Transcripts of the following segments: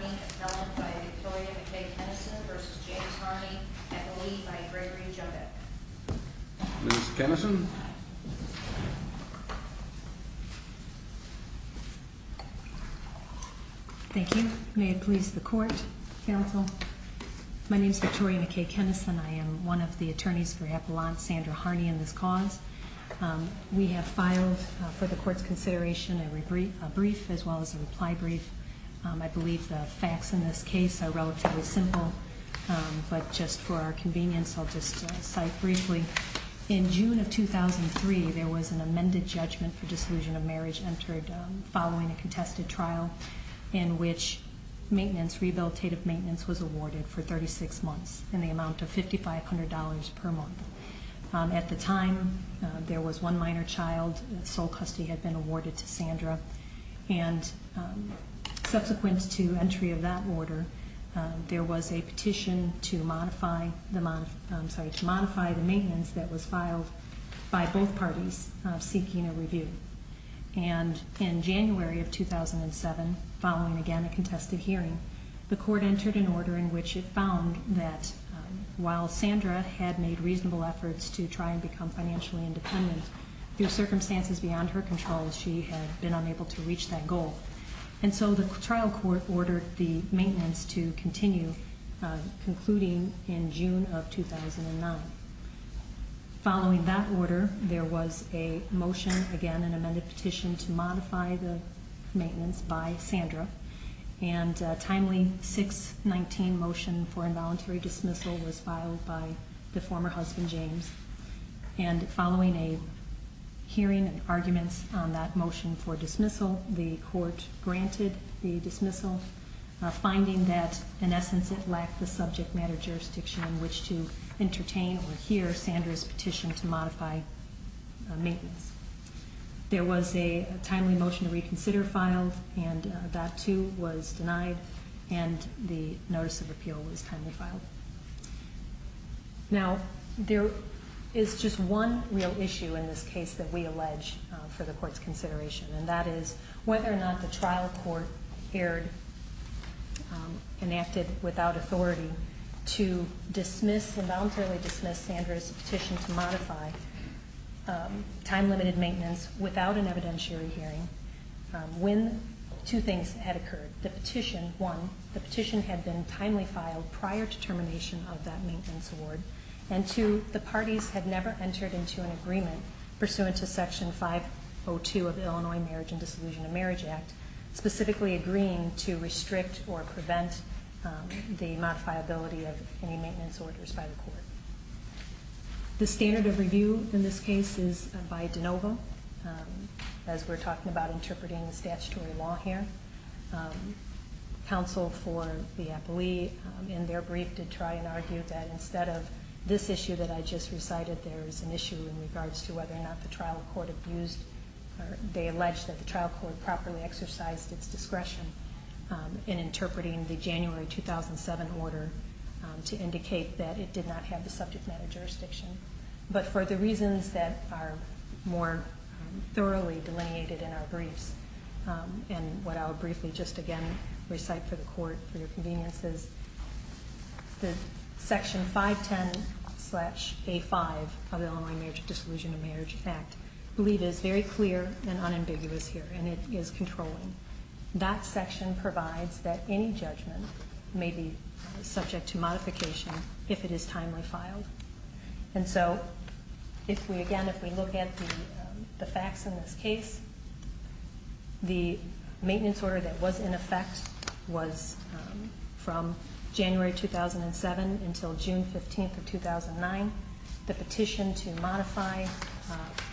is held by Victoria McKay Kenneson versus James Harney at the lead by Gregory Jodek. Ms. Kenneson. Thank you. May it please the court, counsel. My name is Victoria McKay Kenneson. I am one of the attorneys for Appellant Sandra Harney in this cause. We have filed for the court's consideration a brief as well as a reply brief. I believe the facts in this case are relatively simple, but just for our convenience I'll just cite briefly. In June of 2003 there was an amended judgment for disillusion of marriage entered following a contested trial in which maintenance, rehabilitative maintenance was awarded for 36 months in the amount of $5500 per month. At the time there was one minor child, sole custody had been awarded to Sandra and subsequent to entry of that order there was a petition to modify the maintenance that was filed by both parties seeking a review. And in January of 2007 following again a contested hearing the court entered an order in which it found that while Sandra had made reasonable efforts to try and become financially independent, due to circumstances beyond her control she had been unable to reach that goal. And so the trial court ordered the maintenance to continue concluding in June of 2009. Following that order there was a motion again, an amended petition to modify the maintenance by Sandra and a timely 619 motion for involuntary dismissal was filed by the former husband James. And following a hearing and arguments on that in essence it lacked the subject matter jurisdiction in which to entertain or hear Sandra's petition to modify maintenance. There was a timely motion to reconsider filed and that too was denied and the notice of appeal was timely filed. Now there is just one real issue in this case that we allege for the court's consideration and that is whether or not the trial court erred, enacted without authority to dismiss, involuntarily dismiss Sandra's petition to modify time limited maintenance without an evidentiary hearing when two things had occurred. The petition, one, the petition had been timely filed prior to termination of that maintenance award and two, the parties had never entered into an agreement pursuant to section 502 of the Illinois Marriage and Disillusionment of Marriage Act, specifically agreeing to restrict or prevent the modifiability of any maintenance orders by the court. The standard of review in this case is by DeNovo as we're talking about interpreting statutory law here. Counsel for the appellee in their brief did try and argue that instead of this issue that I just recited there is an issue in regards to whether or not the trial court abused or they alleged that the trial court properly exercised its discretion in interpreting the January 2007 order to indicate that it did not have the subject matter jurisdiction. But for the reasons that are more thoroughly delineated in our briefs and what I'll briefly just again recite for the court for your conveniences, the section 510-A5 of the Illinois Marriage and Disillusionment of Marriage Act I believe is very clear and unambiguous here and it is controlling. That section provides that any judgment may be subject to modification if it is timely filed. And so if we again, if we look at the facts in this case, the maintenance order that was in effect was from January 2007 until June 15th of 2009. The petition to modify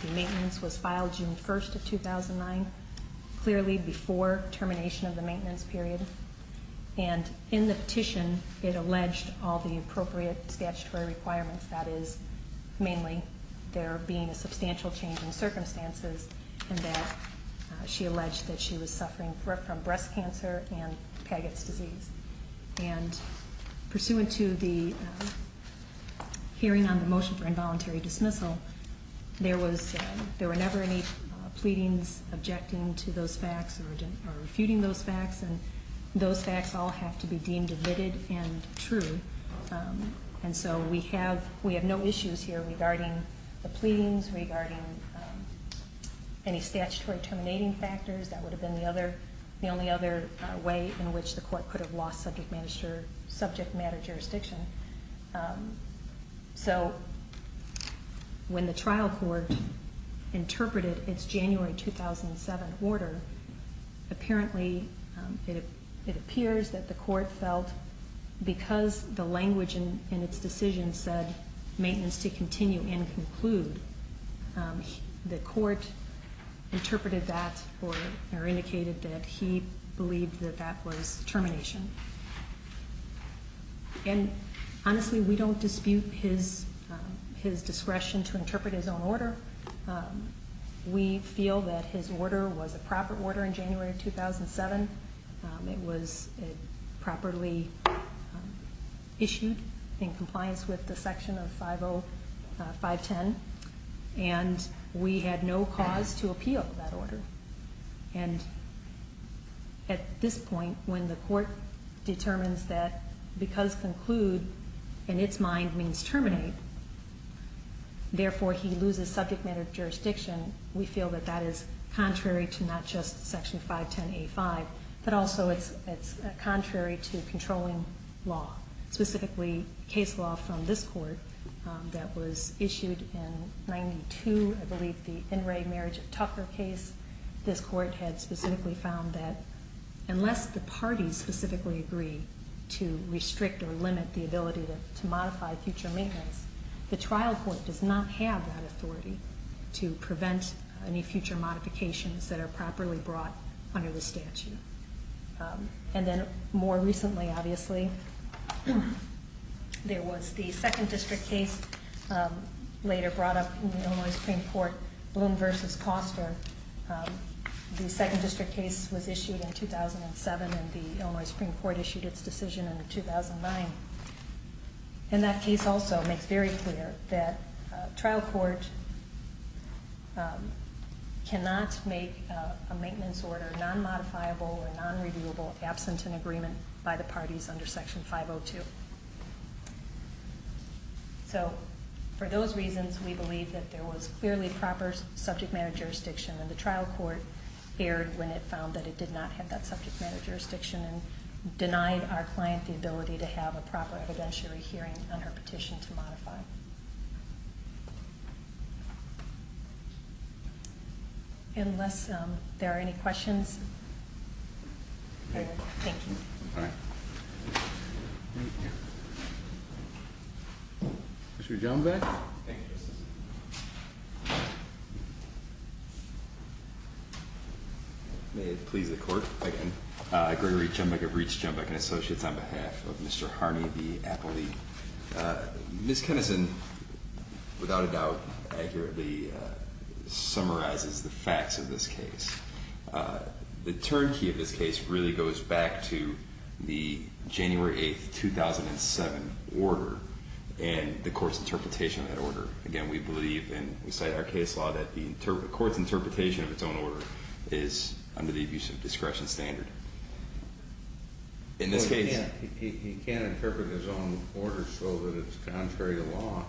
the maintenance was filed June 1st of 2009, clearly before termination of the maintenance period. And in the petition it alleged all the appropriate statutory requirements, that is mainly there being a substantial change in circumstances and that she alleged that she was suffering from breast cancer and Paget's disease. And pursuant to the hearing on the motion for involuntary dismissal, there were never any pleadings objecting to those facts or refuting those facts and those facts all have to be regarding any statutory terminating factors. That would have been the only other way in which the court could have lost subject matter jurisdiction. So when the trial court interpreted its January 2007 order, apparently it appears that the court felt because the language in its decision said maintenance to continue and conclude, the court interpreted that or indicated that he believed that that was termination. And honestly, we don't dispute his discretion to interpret his own order. We feel that his order was a proper order in January 2007. It was properly issued in compliance with the section of 50510 and we had no cause to appeal that order. And at this point, when the court determines that because conclude in its mind means terminate, therefore he loses subject matter jurisdiction, we feel that that is contrary to not just section 510A5, but also it's contrary to controlling law, specifically case law from this court that was issued in 92, I believe the In Re Marriage of Tucker case. This court had specifically found that unless the parties specifically agree to restrict or limit the ability to modify future maintenance, the trial court does not have that authority to prevent any future modifications that are properly brought under the statute. And then more recently, obviously, there was the second district case later brought up in the Illinois Supreme Court, Bloom v. Koster. The second district case was issued in 2007 and the Illinois Supreme Court issued its decision in 2009. And that case also makes very clear that the trial court cannot make a maintenance order non-modifiable or non-reviewable absent an agreement by the parties under section 502. So for those reasons, we believe that there was clearly proper subject matter jurisdiction and the trial court erred when it found that it did not have that subject matter jurisdiction and denied our client the ability to have a proper evidentiary hearing on her petition to modify. Unless there are any questions, thank you. All right. Thank you. Mr. Jumbach. Thank you, Justice. May it please the court again. Gregory Jumbach of Reits Jumbach and Associates on behalf of Mr. Harney v. Appley. Ms. Kenneson, without a doubt, accurately summarizes the facts of this January 8, 2007 order and the court's interpretation of that order. Again, we believe and we cite our case law that the court's interpretation of its own order is under the abuse of discretion standard. In this case... He can't interpret his own order so that it's contrary to law.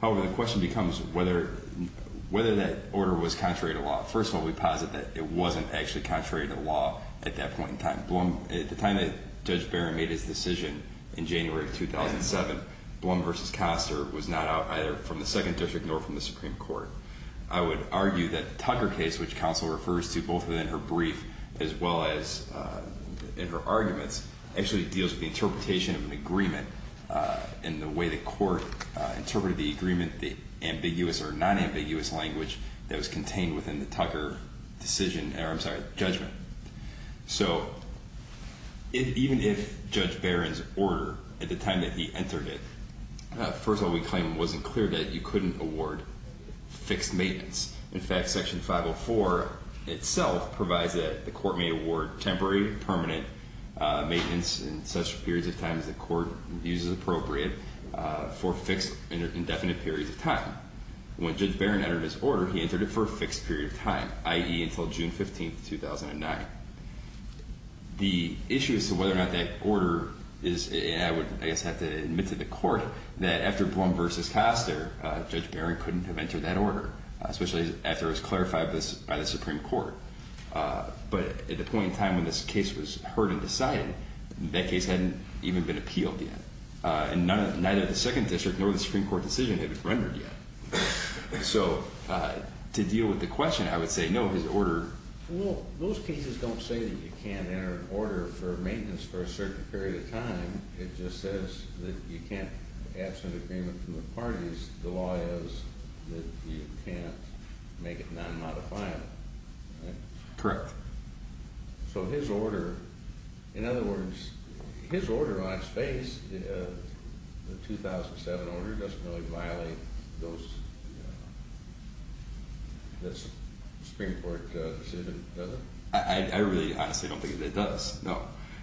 However, the question becomes whether that order was contrary to law. First of all, we posit that it wasn't actually contrary to law. At the time that Judge Barron made his decision in January 2007, Blum v. Koster was not out either from the Second District nor from the Supreme Court. I would argue that the Tucker case, which counsel refers to both in her brief as well as in her arguments, actually deals with the interpretation of an agreement and the way the court interpreted the agreement, the ambiguous or I'm sorry, judgment. So even if Judge Barron's order at the time that he entered it... First of all, we claim it wasn't clear that you couldn't award fixed maintenance. In fact, Section 504 itself provides that the court may award temporary permanent maintenance in such periods of time as the court views as appropriate for fixed indefinite periods of time. When Judge Barron entered his order, he entered it for a period of time between 2008 and 2009. The issue as to whether or not that order is... And I would, I guess, have to admit to the court that after Blum v. Koster, Judge Barron couldn't have entered that order, especially after it was clarified by the Supreme Court. But at the point in time when this case was heard and decided, that case hadn't even been appealed yet. And neither the Second District nor the Supreme Court. Well, those cases don't say that you can't enter an order for maintenance for a certain period of time. It just says that you can't absent agreement from the parties. The law is that you can't make it non-modifiable. Correct. So his order, in other words, his order on its face, the 2007 order doesn't really violate those, the Supreme Court decision, does it? I really honestly don't think that it does, no.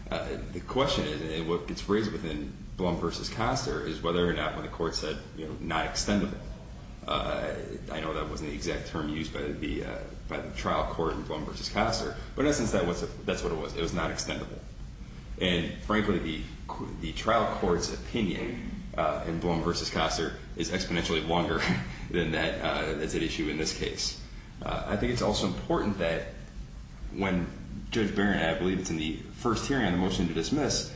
The question is, what gets raised within Blum v. Koster is whether or not when the court said, you know, not extendable. I know that wasn't the exact term used by the trial court in Blum v. Koster, but in essence, that's what it was. It was not extendable. And frankly, the trial court's opinion in Blum v. Koster is exponentially longer than that issue in this case. I think it's also important that when Judge Barron, I believe it's in the first hearing on the because there's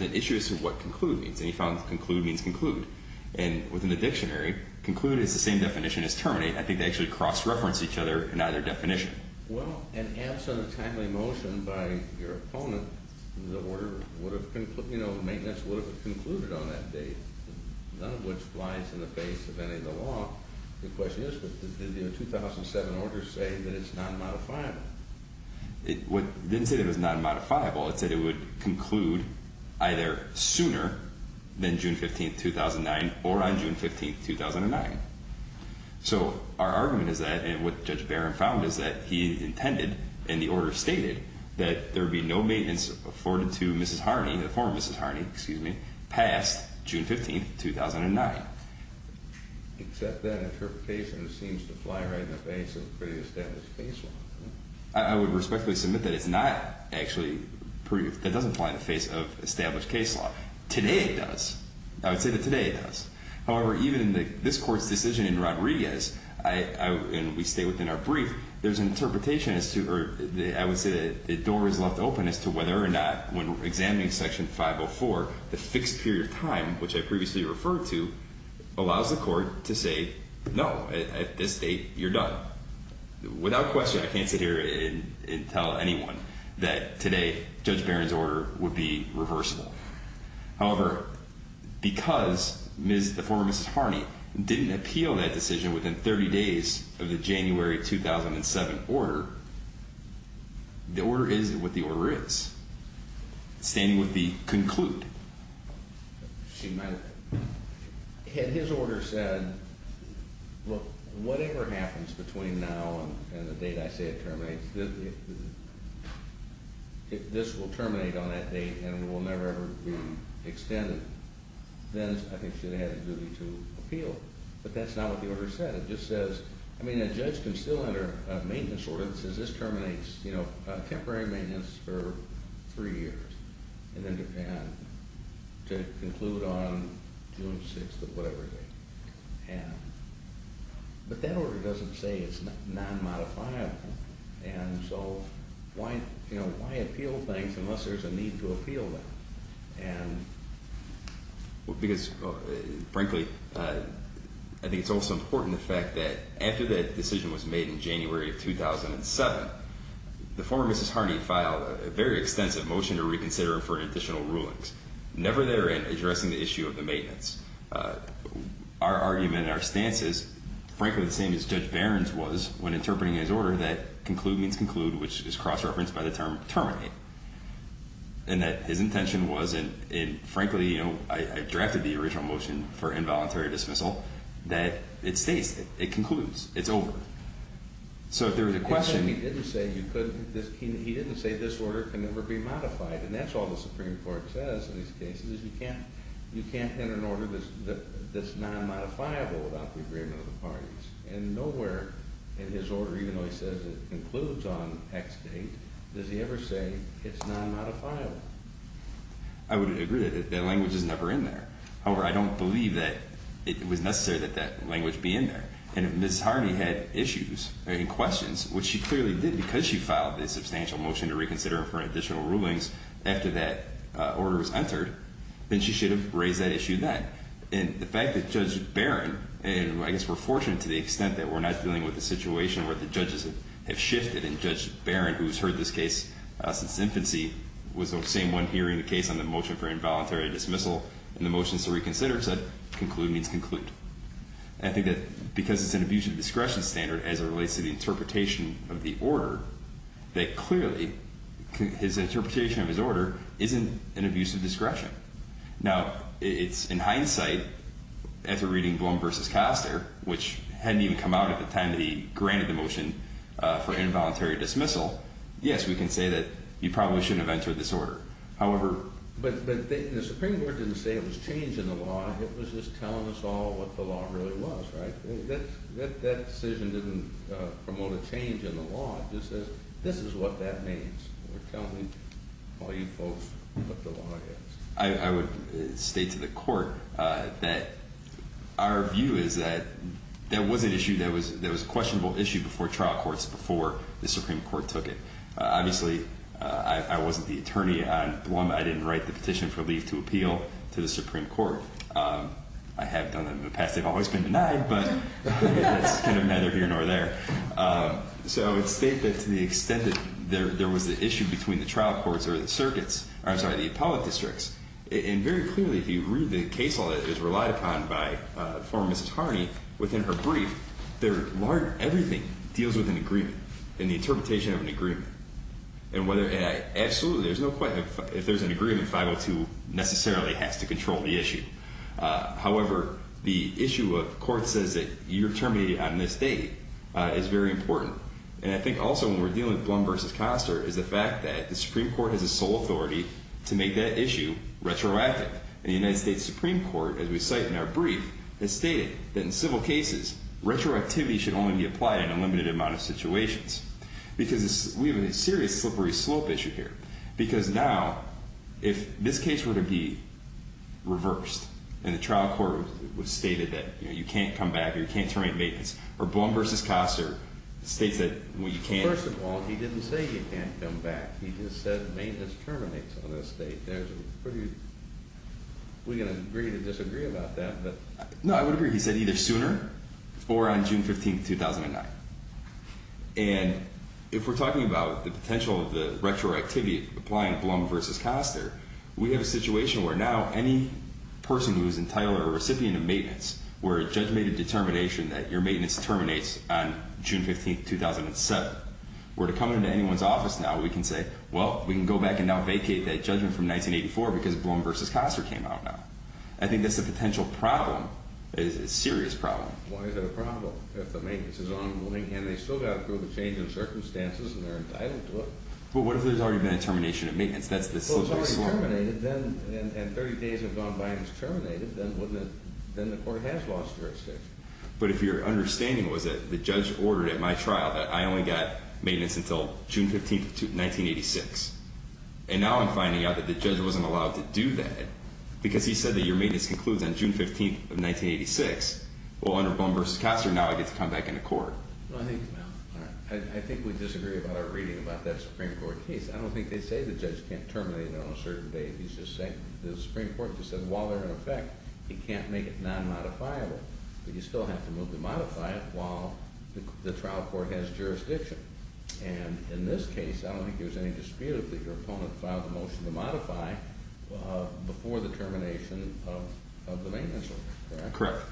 an issue as to what conclude means. And he found conclude means conclude. And within the dictionary, conclude is the same definition as terminate. I think they actually cross-reference each other in either definition. Well, in absence of timely motion by your opponent, the order would have, you know, maintenance would have concluded on that date, none of which flies in the face of any of the law. The question is, did the 2007 order say that it's non-modifiable? It didn't say it was non-modifiable. It said it would conclude either sooner than June 15th, 2009 or on June 15th, 2009. So our argument is that, and what Judge Barron found is that he intended, and the order stated, that there would be no maintenance afforded to Mrs. Harney, the former Mrs. Harney, excuse me, past June 15th, 2009. Except that interpretation seems to fly right in the face of pretty established case law. I would respectfully submit that it's not actually pretty, that doesn't fly in the face of established case law. Today it does. I would say that today it does. However, even in this Court's decision in Rodriguez, and we stay within our brief, there's an interpretation as to, or I would say that the door is left open as to whether or not, when examining Section 504, the fixed period of time, which I previously referred to, allows the Court to say, no, at this date, you're done. Without question, I can't sit here and tell anyone that today Judge Barron's order would be to extend the 30 days of the January 2007 order. The order is what the order is, standing with the conclude. Had his order said, whatever happens between now and the date I say it terminates, if this will terminate on that date and will never ever be extended, then I think she would have had a duty to appeal. But that's not what the order said. It just says, I mean, a judge can still enter a maintenance order that says this terminates, you know, temporary maintenance for three years, and then depend to conclude on June 6th of whatever date. But that order doesn't say it's non-modifiable, and so, you know, why appeal things unless there's a need to appeal them? Well, because, frankly, I think it's also important the fact that after that decision was made in January of 2007, the former Mrs. Harney filed a very extensive motion to reconsider for additional rulings, never therein addressing the issue of the maintenance. Our argument and our stance is, frankly, the same as Judge Barron's was, when interpreting his order, that conclude means conclude, which is cross-referenced by the term terminate. And that his intention was, and frankly, you know, I drafted the original motion for involuntary dismissal, that it stays, it concludes, it's over. So if there was a question... He didn't say this order can never be modified, and that's all the Supreme Court says in these cases, is you can't enter an order that's non-modifiable without the agreement of the parties. And nowhere in his order, even though he says it concludes on X date, does he ever say it's non-modifiable. I would agree that that language is never in there. However, I don't believe that it was necessary that that language be in there. And if Mrs. Harney had issues and questions, which she clearly did because she filed this substantial motion to reconsider for additional rulings after that order was entered, then she should have raised that issue then. And the fact that Judge Barron, and I guess we're fortunate to the extent that we're not dealing with a situation where the judges have shifted. And Judge Barron, who's heard this case since infancy, was the same one hearing the case on the motion for involuntary dismissal. And the motion to reconsider said conclude means conclude. And I think that because it's an abuse of discretion standard as it relates to the interpretation of the order, that clearly his interpretation of his order isn't an abuse of discretion. Now, it's in hindsight, after reading Blum v. Castor, which hadn't even come out at the time that he granted the motion for involuntary dismissal, yes, we can say that he probably shouldn't have entered this order. However... But the Supreme Court didn't say it was change in the law. It was just telling us all what the law really was, right? That decision didn't promote a change in the law. It just says, this is what that means. They're telling all you folks what the law is. I would state to the court that our view is that that was an issue that was a questionable issue before trial courts, before the Supreme Court took it. Obviously, I wasn't the attorney on Blum. I didn't write the petition for leave to appeal to the Supreme Court. I have done that in the past. They've always been denied, but that's kind of neither here nor there. So I would state that to the extent that there was an issue between the trial courts or the circuits, I'm sorry, the appellate districts. And very clearly, if you read the case law that is relied upon by former Mrs. Harney, within her brief, everything deals with an agreement and the interpretation of an agreement. And absolutely, if there's an agreement, 502 necessarily has to control the issue. However, the issue of court says that you're terminated on this date is very important. And I think also when we're dealing with Blum v. Koster is the fact that the Supreme Court has a sole authority to make that issue retroactive. And the United States Supreme Court, as we cite in our brief, has stated that in civil cases, retroactivity should only be applied in a limited amount of situations. Because we have a serious slippery slope issue here. Because now, if this case were to be reversed and the trial court stated that you can't come back or you can't terminate maintenance, or Blum v. Koster states that you can't. First of all, he didn't say you can't come back. He just said maintenance terminates on this date. There's a pretty – we're going to agree to disagree about that. No, I would agree. He said either sooner or on June 15, 2009. And if we're talking about the potential of the retroactivity applying Blum v. Koster, we have a situation where now any person who is entitled or a recipient of maintenance, where a judge made a determination that your maintenance terminates on June 15, 2007, where to come into anyone's office now, we can say, well, we can go back and now vacate that judgment from 1984 because Blum v. Koster came out now. I think that's a potential problem, a serious problem. Why is that a problem if the maintenance is on and they still got to go through the change in circumstances and they're entitled to it? But what if there's already been a termination of maintenance? That's the solution. Well, if it's already terminated and 30 days have gone by and it's terminated, then the court has lost jurisdiction. But if your understanding was that the judge ordered at my trial that I only got maintenance until June 15, 1986, and now I'm finding out that the judge wasn't allowed to do that because he said that your maintenance concludes on June 15, 1986, well, under Blum v. Koster, now I get to come back into court. I think we disagree about our reading about that Supreme Court case. I don't think they say the judge can't terminate on a certain date. He's just saying the Supreme Court just said while they're in effect, he can't make it non-modifiable. But you still have to move to modify it while the trial court has jurisdiction. And in this case, I don't think there's any dispute that your opponent filed a motion to modify before the termination of the maintenance order. Correct.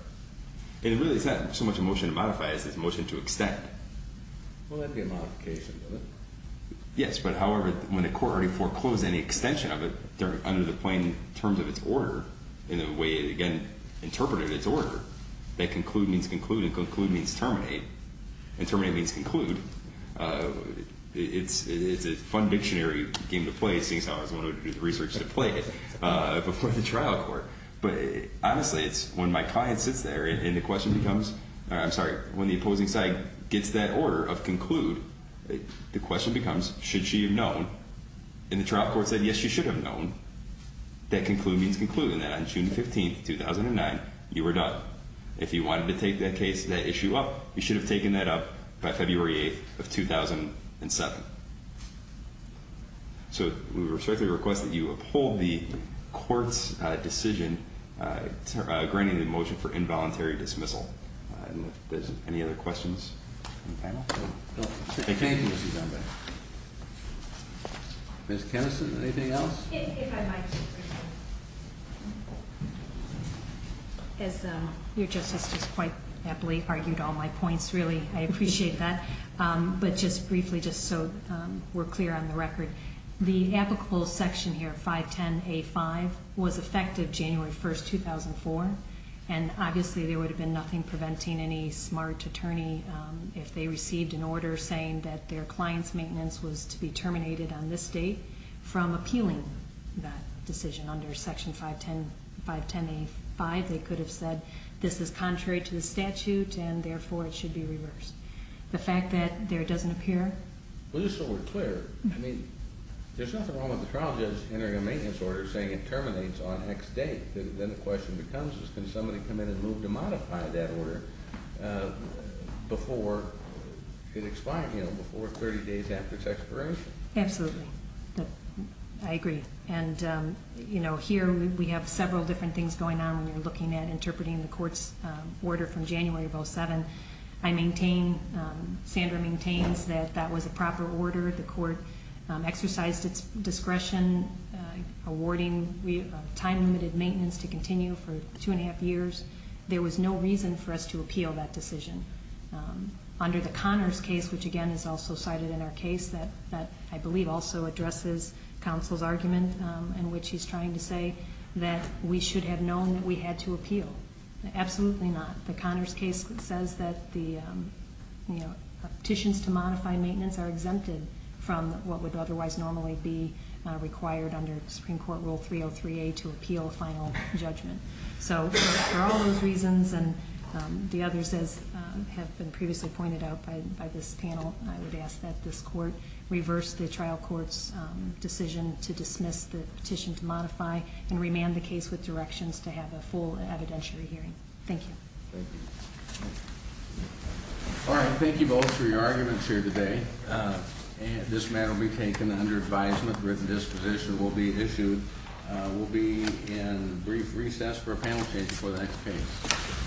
And it really is not so much a motion to modify as it is a motion to extend. Well, that'd be a modification, wouldn't it? Yes, but however, when the court already foreclosed any extension of it under the plain terms of its order, in the way it, again, interpreted its order, that conclude means conclude and conclude means terminate, and terminate means conclude, it's a fun dictionary game to play, seeing as how I was the one who did the research to play it before the trial court. But honestly, it's when my client sits there and the question becomes, I'm sorry, when the opposing side gets that order of conclude, the question becomes, should she have known? And the trial court said, yes, she should have known, that conclude means conclude, and that on June 15, 2009, you were done. If you wanted to take that case, that issue up, you should have taken that up by February 8 of 2007. So we respectfully request that you uphold the court's decision granting the motion for involuntary dismissal. And if there's any other questions from the panel? Thank you. Ms. Kenniston, anything else? If I might. As your justice has quite aptly argued all my points, really, I appreciate that. But just briefly, just so we're clear on the record, the applicable section here, 510A5, was effective January 1, 2004. And obviously, there would have been nothing preventing any smart attorney, if they received an order saying that their client's maintenance was to be terminated on this date, from appealing that decision under Section 510A5. They could have said, this is contrary to the statute, and therefore, it should be reversed. The fact that there doesn't appear? Well, just so we're clear, I mean, there's nothing wrong with the trial judge entering a maintenance order saying it terminates on X date. Then the question becomes, can somebody come in and move to modify that order before it expires, you know, before 30 days after its expiration? Absolutely. I agree. And, you know, here we have several different things going on when you're looking at interpreting the court's order from January of 2007. I maintain, Sandra maintains, that that was a proper order. The court exercised its discretion awarding time-limited maintenance to continue for two and a half years. There was no reason for us to appeal that decision. Under the Connors case, which, again, is also cited in our case, that I believe also addresses counsel's argument in which he's trying to say that we should have known that we had to appeal. Absolutely not. The Connors case says that the petitions to modify maintenance are exempted from what would otherwise normally be required under Supreme Court Rule 303A to appeal a final judgment. So for all those reasons and the others, as have been previously pointed out by this panel, I would ask that this court reverse the trial court's decision to dismiss the petition to modify and remand the case with directions to have a full evidentiary hearing. Thank you. Thank you. All right. Thank you both for your arguments here today. This matter will be taken under advisement. Written disposition will be issued. We'll be in brief recess for a panel change before the next case.